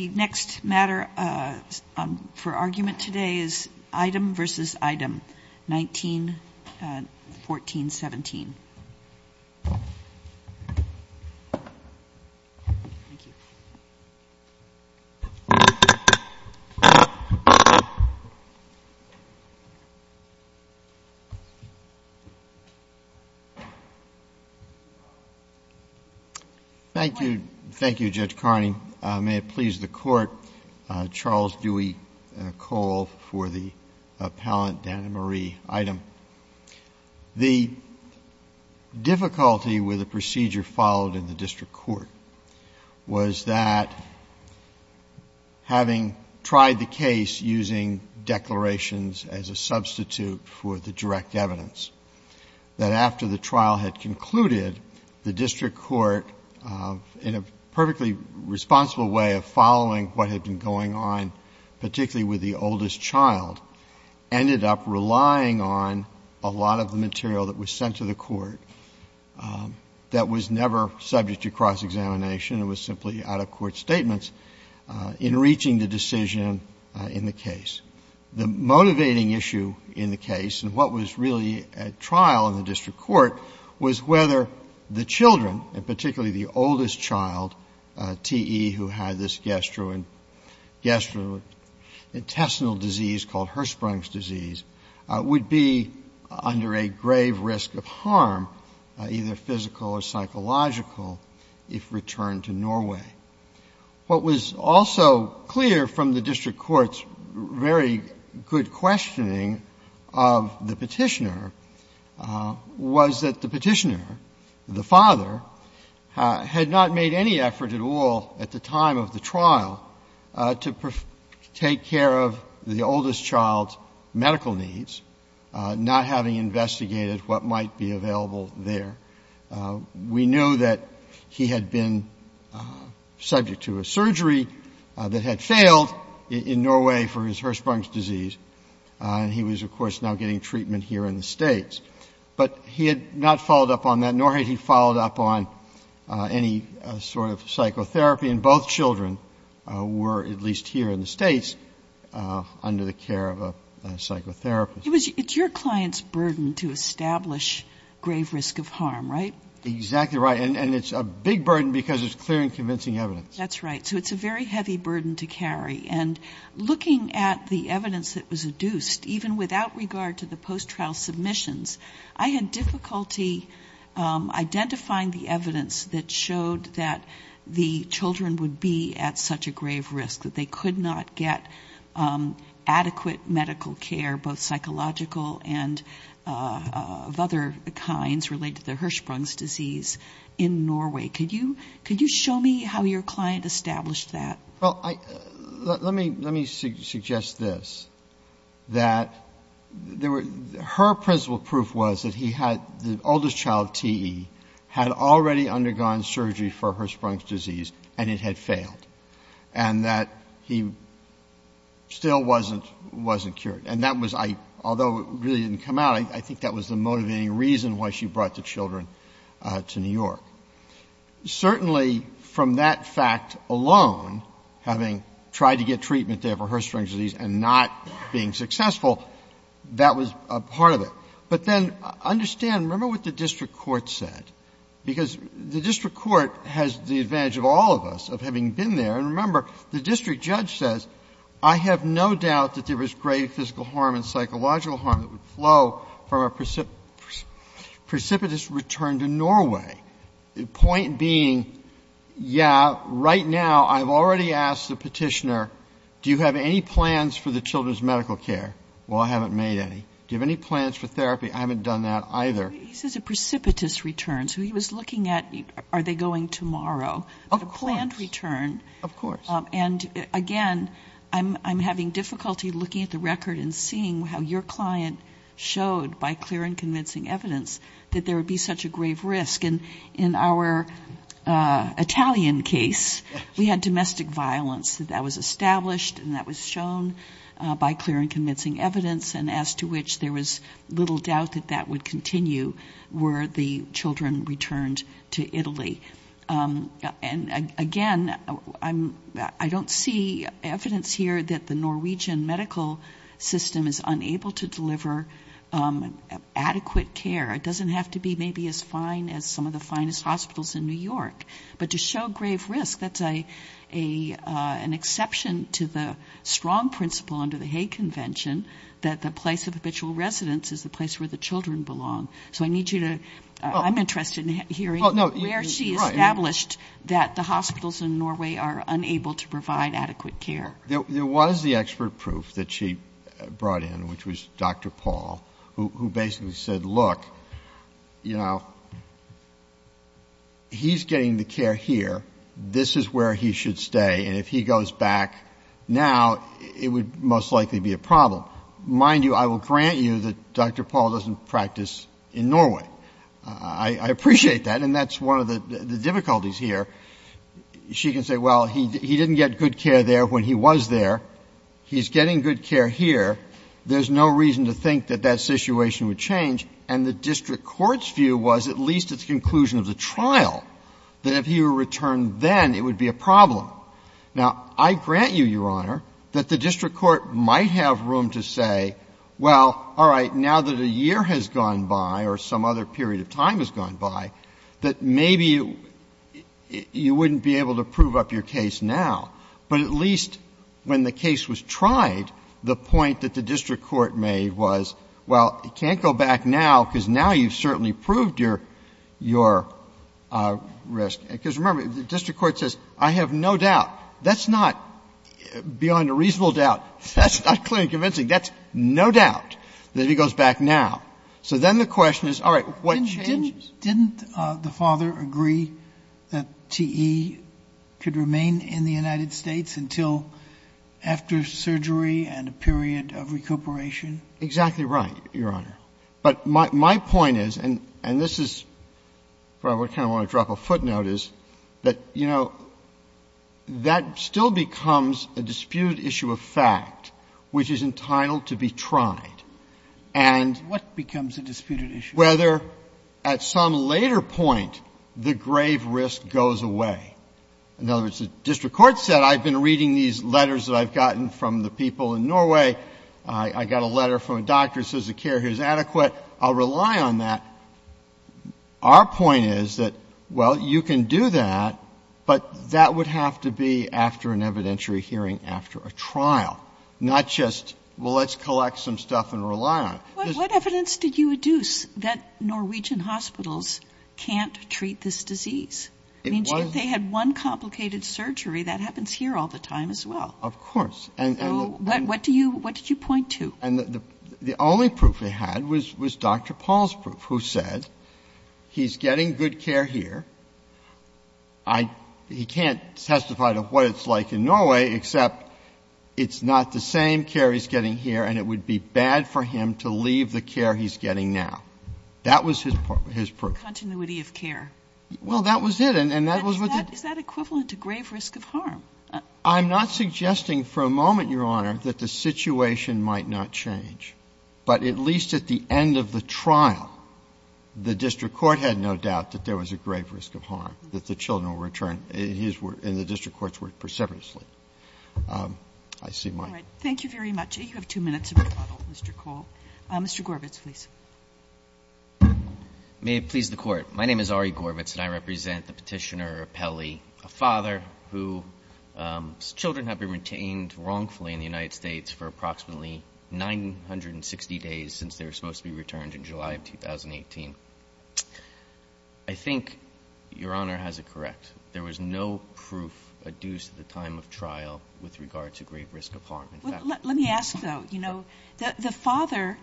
The next matter for argument today is Eidem v. Eidem, 1914-17. Thank you. Thank you, Judge Carney. May it please the Court, Charles Dewey Cole for the appellant, Dan and Marie Eidem. The difficulty with the procedure followed in the district court was that, having tried the case using declarations as a substitute for the direct evidence, that after the trial had concluded, the district court, in a perfectly responsible way of following what had been going on, particularly with the oldest child, ended up relying on a lot of the material that was sent to the court that was never subject to cross-examination. It was simply out-of-court statements in reaching the decision in the case. The motivating issue in the case and what was really at trial in the district court was whether the children, and particularly the oldest child, T.E., who had this gastrointestinal disease called Hirschsprung's disease, would be under a grave risk of harm, either physical or psychological, if returned to Norway. What was also clear from the district court's very good questioning of the Petitioner was that the Petitioner, the father, had not made any effort at all at the time of the trial to take care of the oldest child's medical needs, not having investigated what might be available there. We knew that he had been subject to a surgery that had failed in Norway for his Hirschsprung's disease, and he was, of course, now getting treatment here in the States. But he had not followed up on that, nor had he followed up on any sort of psychotherapy, and both children were, at least here in the States, under the care of a psychotherapist. It's your client's burden to establish grave risk of harm, right? Exactly right. And it's a big burden because it's clear and convincing evidence. That's right. So it's a very heavy burden to carry. And looking at the evidence that was adduced, even without regard to the post-trial submissions, I had difficulty identifying the evidence that showed that the children would be at such a grave risk, that they could not get adequate medical care, both psychological and of other kinds related to the Hirschsprung's disease in Norway. Could you show me how your client established that? Well, let me suggest this, that her principal proof was that he had, the oldest child, T.E., had already undergone surgery for Hirschsprung's disease, and it had failed, and that he still wasn't cured. And that was, I, although it really didn't come out, I think that was the motivating reason why she brought the children to New York. Certainly, from that fact alone, having tried to get treatment there for Hirschsprung's disease and not being successful, that was a part of it. But then, understand, remember what the district court said, because the district court has the advantage of all of us of having been there. And remember, the district judge says, I have no doubt that there was grave physical harm and psychological harm that would flow from a precipitous return to Norway. Point being, yeah, right now, I've already asked the petitioner, do you have any plans for the children's medical care? Well, I haven't made any. Do you have any plans for therapy? I haven't done that either. He says a precipitous return, so he was looking at, are they going tomorrow? Of course. A planned return. Of course. And again, I'm having difficulty looking at the record and seeing how your client showed by clear and convincing evidence that there would be such a grave risk. In our Italian case, we had domestic violence. That was established and that was shown by clear and convincing evidence, and as to which there was little doubt that that would continue were the children returned to Italy. And again, I don't see evidence here that the Norwegian medical system is unable to deliver adequate care. It doesn't have to be maybe as fine as some of the finest hospitals in New York. But to show grave risk, that's an exception to the strong principle under the Hague Convention that the place of habitual residence is the place where the children belong. So I need you to, I'm interested in hearing where she established that the hospitals in Norway are unable to provide adequate care. There was the expert proof that she brought in, which was Dr. Paul, who basically said, look, you know, he's getting the care here. This is where he should stay, and if he goes back now, it would most likely be a problem. Mind you, I will grant you that Dr. Paul doesn't practice in Norway. I appreciate that, and that's one of the difficulties here. She can say, well, he didn't get good care there when he was there. He's getting good care here. There's no reason to think that that situation would change. And the district court's view was, at least at the conclusion of the trial, that if he were returned then, it would be a problem. Now, I grant you, Your Honor, that the district court might have room to say, well, all right, now that a year has gone by or some other period of time has gone by, that maybe you wouldn't be able to prove up your case now. But at least when the case was tried, the point that the district court made was, well, you can't go back now because now you've certainly proved your risk. Because remember, the district court says, I have no doubt. That's not beyond a reasonable doubt. That's not clearly convincing. That's no doubt that he goes back now. So then the question is, all right, what changes? Sotomayor, didn't the father agree that TE could remain in the United States until after surgery and a period of recuperation? Exactly right, Your Honor. But my point is, and this is where I kind of want to drop a footnote, is that, you know, that still becomes a disputed issue of fact, which is entitled to be tried. And whether at some later point, the grave risk goes away. In other words, the district court said, I've been reading these letters that I've gotten from the people in Norway. I got a letter from a doctor who says the care here is adequate. I'll rely on that. Our point is that, well, you can do that, but that would have to be after an evidentiary hearing after a trial, not just, well, let's collect some stuff and rely on it. What evidence did you deduce that Norwegian hospitals can't treat this disease? It was If they had one complicated surgery, that happens here all the time as well. Of course. So what did you point to? The only proof they had was Dr. Paul's proof, who said he's getting good care here. He can't testify to what it's like in Norway, except it's not the same care he's getting here, and it would be bad for him to leave the care he's getting now. That was his proof. Continuity of care. Well, that was it. And that was what the Is that equivalent to grave risk of harm? I'm not suggesting for a moment, Your Honor, that the situation might not change. But at least at the end of the trial, the district court had no doubt that there was a grave risk of harm, that the children were returned, and the district courts were persevering. I see my time. Thank you very much. You have two minutes of rebuttal, Mr. Cole. Mr. Gorbitz, please. May it please the Court. My name is Ari Gorbitz, and I represent the petitioner, Peli, a father whose children have been retained wrongfully in the United States for approximately 960 days since they were supposed to be returned in July of 2018. I think Your Honor has it correct. There was no proof adduced at the time of trial with regard to grave risk of harm. Let me ask, though, you know, the father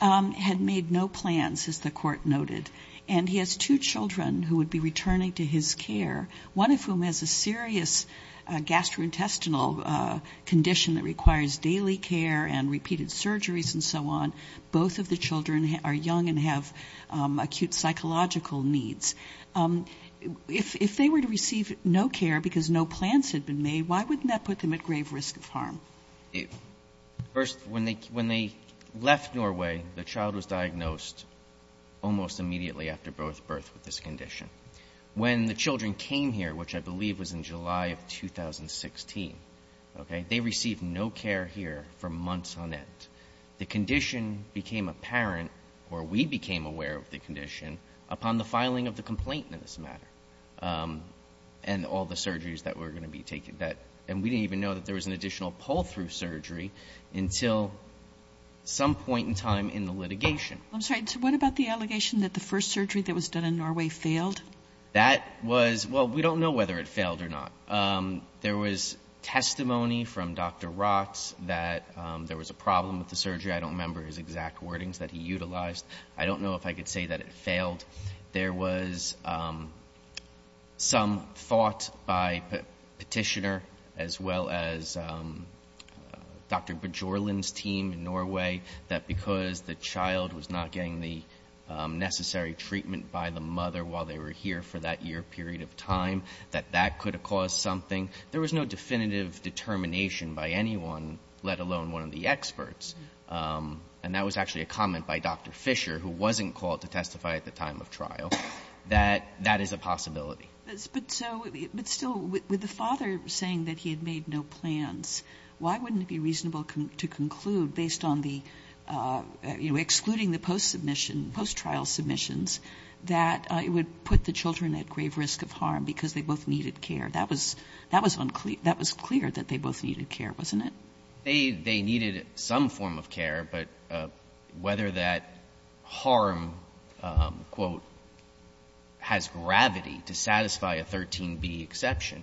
had made no plans, as the Court noted. And he has two children who would be returning to his care, one of whom has a serious gastrointestinal condition that requires daily care and repeated surgeries and so on. Both of the children are young and have acute psychological needs. If they were to receive no care because no plans had been made, why wouldn't that put them at grave risk of harm? First, when they left Norway, the child was diagnosed almost immediately after birth with this condition. When the children came here, which I believe was in July of 2016, okay, they received no care here for months on end. The condition became apparent, or we became aware of the condition, upon the filing of the complaint in this matter and all the surgeries that were going to be taken. And we didn't even know that there was an additional pull-through surgery until some point in time in the litigation. I'm sorry. What about the allegation that the first surgery that was done in Norway failed? That was — well, we don't know whether it failed or not. There was testimony from Dr. Rot that there was a problem with the surgery. I don't remember his exact wordings that he utilized. I don't know if I could say that it failed. There was some thought by Petitioner, as well as Dr. Bjørlund's team in Norway, that because the child was not getting the necessary treatment by the mother while they were here for that year period of time, that that could have caused something. There was no definitive determination by anyone, let alone one of the experts. And that was actually a comment by Dr. Fisher, who wasn't called to testify at the time of trial, that that is a possibility. But still, with the father saying that he had made no plans, why wouldn't it be reasonable to conclude, based on the — you know, excluding the post-submission, post-trial submissions, that it would put the children at grave risk of harm because they both needed care? That was unclear — that was clear that they both needed care, wasn't it? They needed some form of care, but whether that harm, quote, has gravity to satisfy a 13B exception,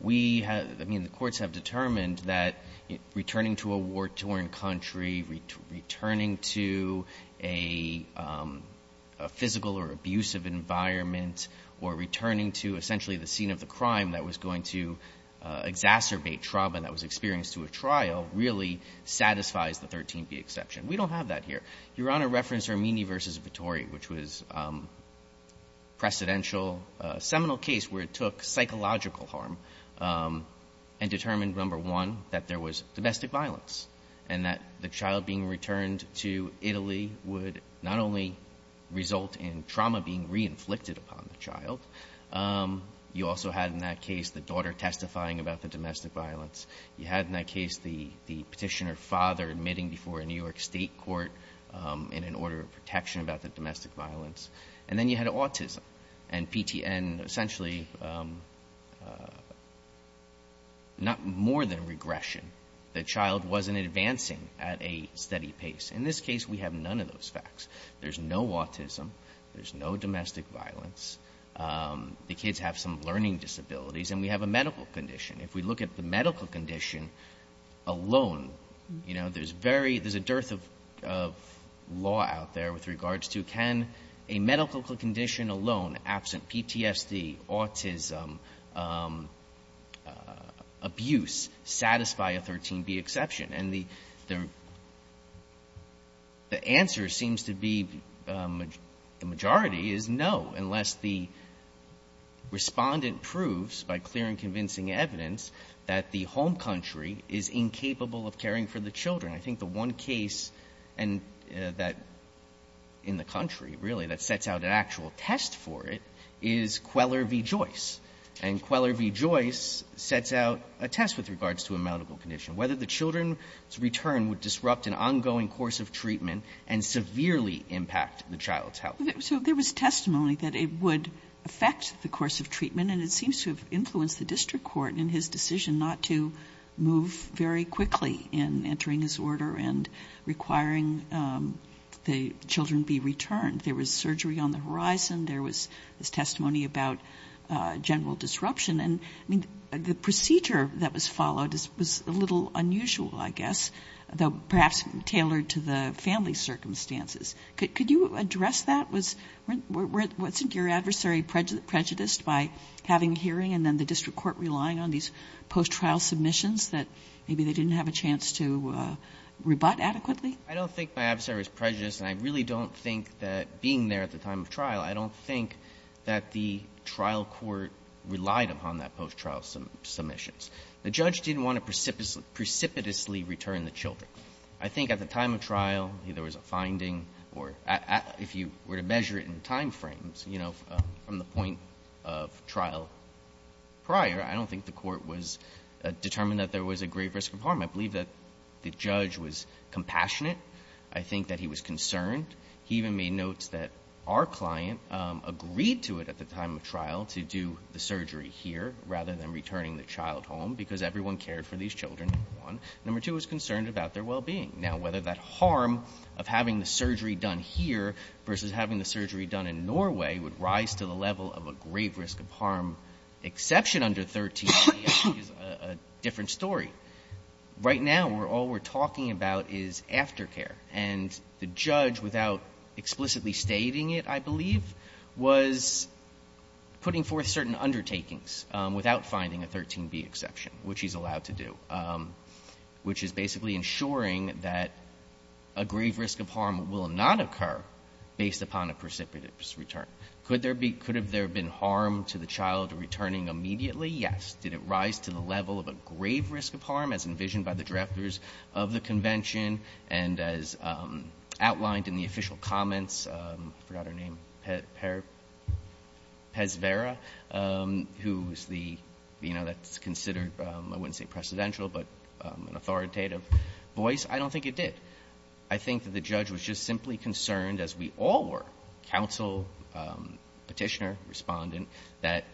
we — I mean, the courts have determined that returning to a war-torn country, returning to a physical or abusive environment, or returning to essentially the scene of the crime that was going to exacerbate trauma that was experienced through a trial, really satisfies the 13B exception. We don't have that here. Your Honor referenced Ermini v. Vittori, which was a precedential — a seminal case where it took psychological harm and determined, number one, that there was domestic violence, and that the child being returned to Italy would not only result in trauma being re-inflicted upon the child, you also had, in that case, the daughter testifying about the domestic violence. You had, in that case, the petitioner father admitting before a New York state court in an order of protection about the domestic violence. And then you had autism, and PTN essentially not more than regression. The child wasn't advancing at a steady pace. In this case, we have none of those facts. There's no autism. There's no domestic violence. The kids have some learning disabilities, and we have a medical condition. If we look at the medical condition alone, you know, there's very — there's a dearth of law out there with regards to, can a medical condition alone, absent PTSD, autism, abuse, satisfy a 13B exception? And the answer seems to be, the majority is no, unless the Respondent proves, by clear and convincing evidence, that the home country is incapable of caring for the children. I think the one case in the country, really, that sets out an actual test for it, is Queller v. Joyce, and Queller v. Joyce sets out a test with regards to a medical condition, whether the children's return would disrupt an ongoing course of treatment and severely impact the child's health. So there was testimony that it would affect the course of treatment, and it seems to have influenced the district court in his decision not to move very quickly in entering this order and requiring the children be returned. There was surgery on the horizon. There was testimony about general disruption. And, I mean, the procedure that was followed was a little unusual, I guess, though perhaps tailored to the family's circumstances. Could you address that? Wasn't your adversary prejudiced by having a hearing and then the district court relying on these post-trial submissions that maybe they didn't have a chance to rebut adequately? I don't think my adversary was prejudiced, and I really don't think that, being there at the time of trial, I don't think that the trial court relied upon that post-trial submissions. The judge didn't want to precipitously return the children. I think at the time of trial, there was a finding, or if you were to measure it in time frames, you know, from the point of trial prior, I don't think the court was determined that there was a grave risk of harm. I believe that the judge was compassionate. I think that he was concerned. He even made notes that our client agreed to it at the time of trial to do the surgery here rather than returning the child home because everyone cared for these children, number one. Number two, he was concerned about their well-being. Now, whether that harm of having the surgery done here versus having the surgery done in Norway would rise to the level of a grave risk of harm, exception under 13, is a different story. Right now, all we're talking about is aftercare. And the judge, without explicitly stating it, I believe, was putting forth certain undertakings without finding a 13B exception, which he's allowed to do, which is basically ensuring that a grave risk of harm will not occur based upon a precipitous return. Could there be – could there have been harm to the child returning immediately? Yes. Did it rise to the level of a grave risk of harm as envisioned by the directors of the convention and as outlined in the official comments – I forgot her name – Pesvera, who's the – you know, that's considered, I wouldn't say precedential, but an authoritative voice? I don't think it did. I think that the judge was just simply concerned, as we all were, counsel, petitioner, respondent, that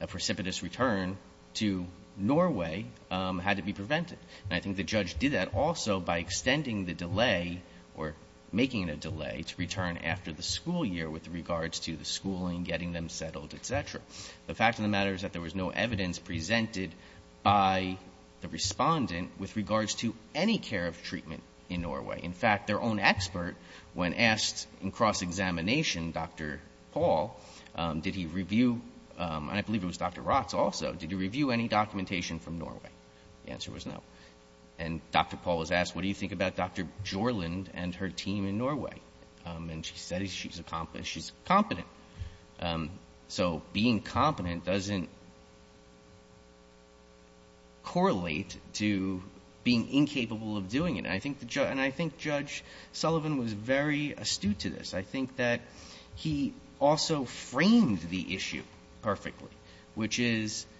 a precipitous return to Norway had to be prevented. And I think the judge did that also by extending the delay, or making it a delay, to return after the school year with regards to the schooling, getting them settled, et cetera. The fact of the matter is that there was no evidence presented by the Respondent with regards to any care of treatment in Norway. In fact, their own expert, when asked in cross-examination, Dr. Paul, did he review – and I believe it was Dr. Rotz also – did he review any documentation from Norway? The answer was no. And Dr. Paul was asked, what do you think about Dr. Jorlund and her team in Norway? And she said she's competent. So being competent doesn't correlate to being incapable of doing it. And I think Judge Sullivan was very astute to this. I think that he also framed the issue perfectly, which is –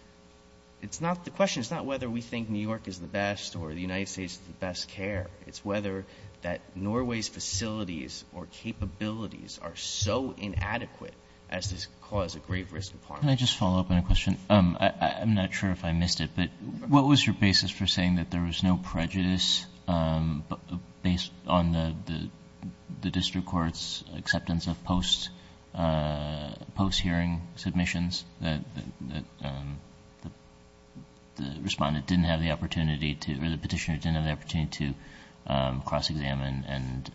it's not the question, it's not whether we think New York is the best or the United States is the best care. It's whether that Norway's facilities or capabilities are so inadequate as to cause a great risk to Parliament. Can I just follow up on a question? I'm not sure if I missed it, but what was your basis for saying that there was no prejudice based on the district court's acceptance of post-hearing submissions? That the Respondent didn't have the opportunity to – or the Petitioner didn't have the opportunity to cross-examine and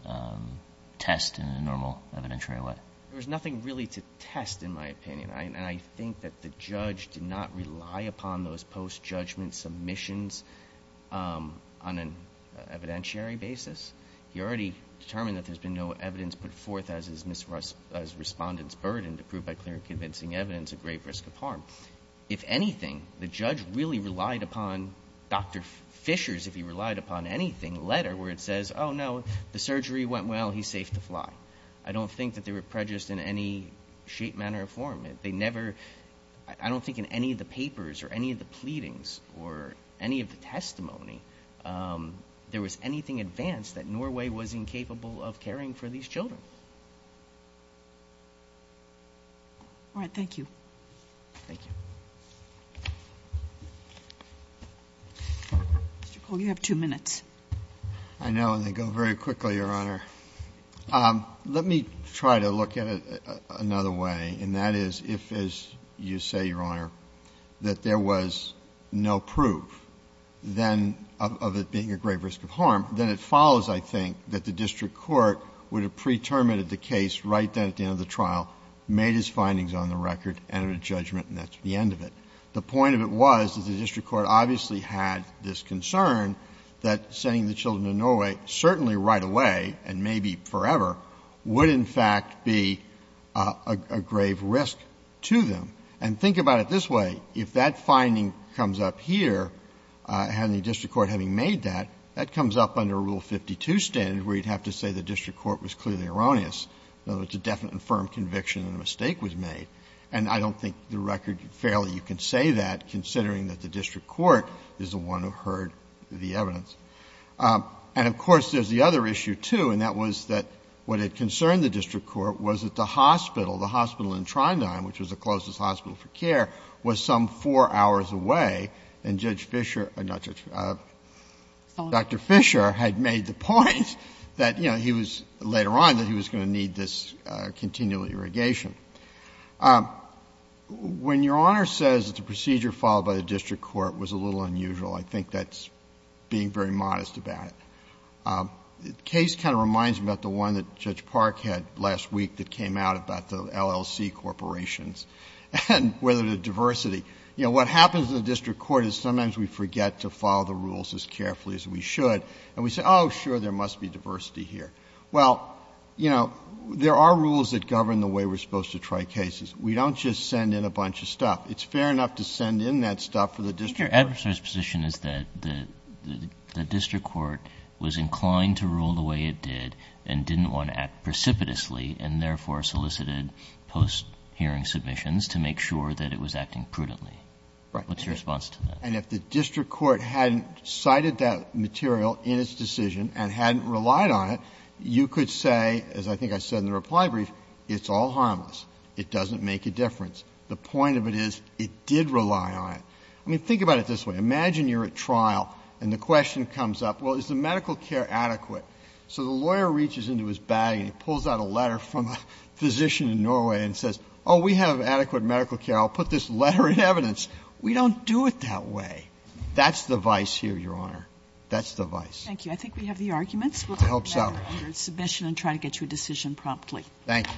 test in a normal evidentiary way? There was nothing really to test, in my opinion. And I think that the Judge did not rely upon those post-judgment submissions on an evidentiary basis. He already determined that there's been no evidence put forth as Respondent's burden to prove by clear and convincing evidence a great risk of harm. If anything, the Judge really relied upon Dr. Fisher's, if he relied upon anything, letter where it says, oh, no, the surgery went well, he's safe to fly. I don't think that they were prejudiced in any shape, manner, or form. They never – I don't think in any of the papers or any of the pleadings or any of the testimony there was anything advanced that Norway was incapable of caring for these children. All right, thank you. Thank you. Mr. Cole, you have two minutes. I know, and they go very quickly, Your Honor. Let me try to look at it another way, and that is if, as you say, Your Honor, that there was no proof then of it being a great risk of harm, then it follows, I think, that the district court would have pre-terminated the case right then at the end of the trial, made his findings on the record, entered a judgment, and that's the end of it. The point of it was that the district court obviously had this concern that sending the children to Norway certainly right away, and maybe forever, would in fact be a grave risk to them. And think about it this way. If that finding comes up here, and the district court having made that, that comes up under Rule 52 standard where you'd have to say the district court was clearly erroneous, though it's a definite and firm conviction that a mistake was made. And I don't think the record fairly you can say that, considering that the district court is the one who heard the evidence. And, of course, there's the other issue, too, and that was that what had concerned the district court was that the hospital, the hospital in Trinidad, which was the closest hospital for care, was some 4 hours away, and Judge Fisher or not Judge Fisher, Dr. Fisher had made the point that, you know, he was later on that he was going to need this continual irrigation. When Your Honor says that the procedure followed by the district court was a little unusual, I think that's being very modest about it. The case kind of reminds me about the one that Judge Park had last week that came out about the LLC corporations and whether the diversity. You know, what happens in the district court is sometimes we forget to follow the rules as carefully as we should, and we say, oh, sure, there must be diversity Well, you know, there are rules that govern the way we're supposed to try cases. We don't just send in a bunch of stuff. It's fair enough to send in that stuff for the district court. But your adversary's position is that the district court was inclined to rule the way it did and didn't want to act precipitously and therefore solicited post-hearing submissions to make sure that it was acting prudently. Right. What's your response to that? And if the district court hadn't cited that material in its decision and hadn't relied on it, you could say, as I think I said in the reply brief, it's all harmless. It doesn't make a difference. The point of it is it did rely on it. I mean, think about it this way. Imagine you're at trial and the question comes up, well, is the medical care adequate? So the lawyer reaches into his bag and he pulls out a letter from a physician in Norway and says, oh, we have adequate medical care. I'll put this letter in evidence. We don't do it that way. That's the vice here, Your Honor. That's the vice. Thank you. I think we have the arguments. It helps out. We'll take back your submission and try to get you a decision promptly. Thank you.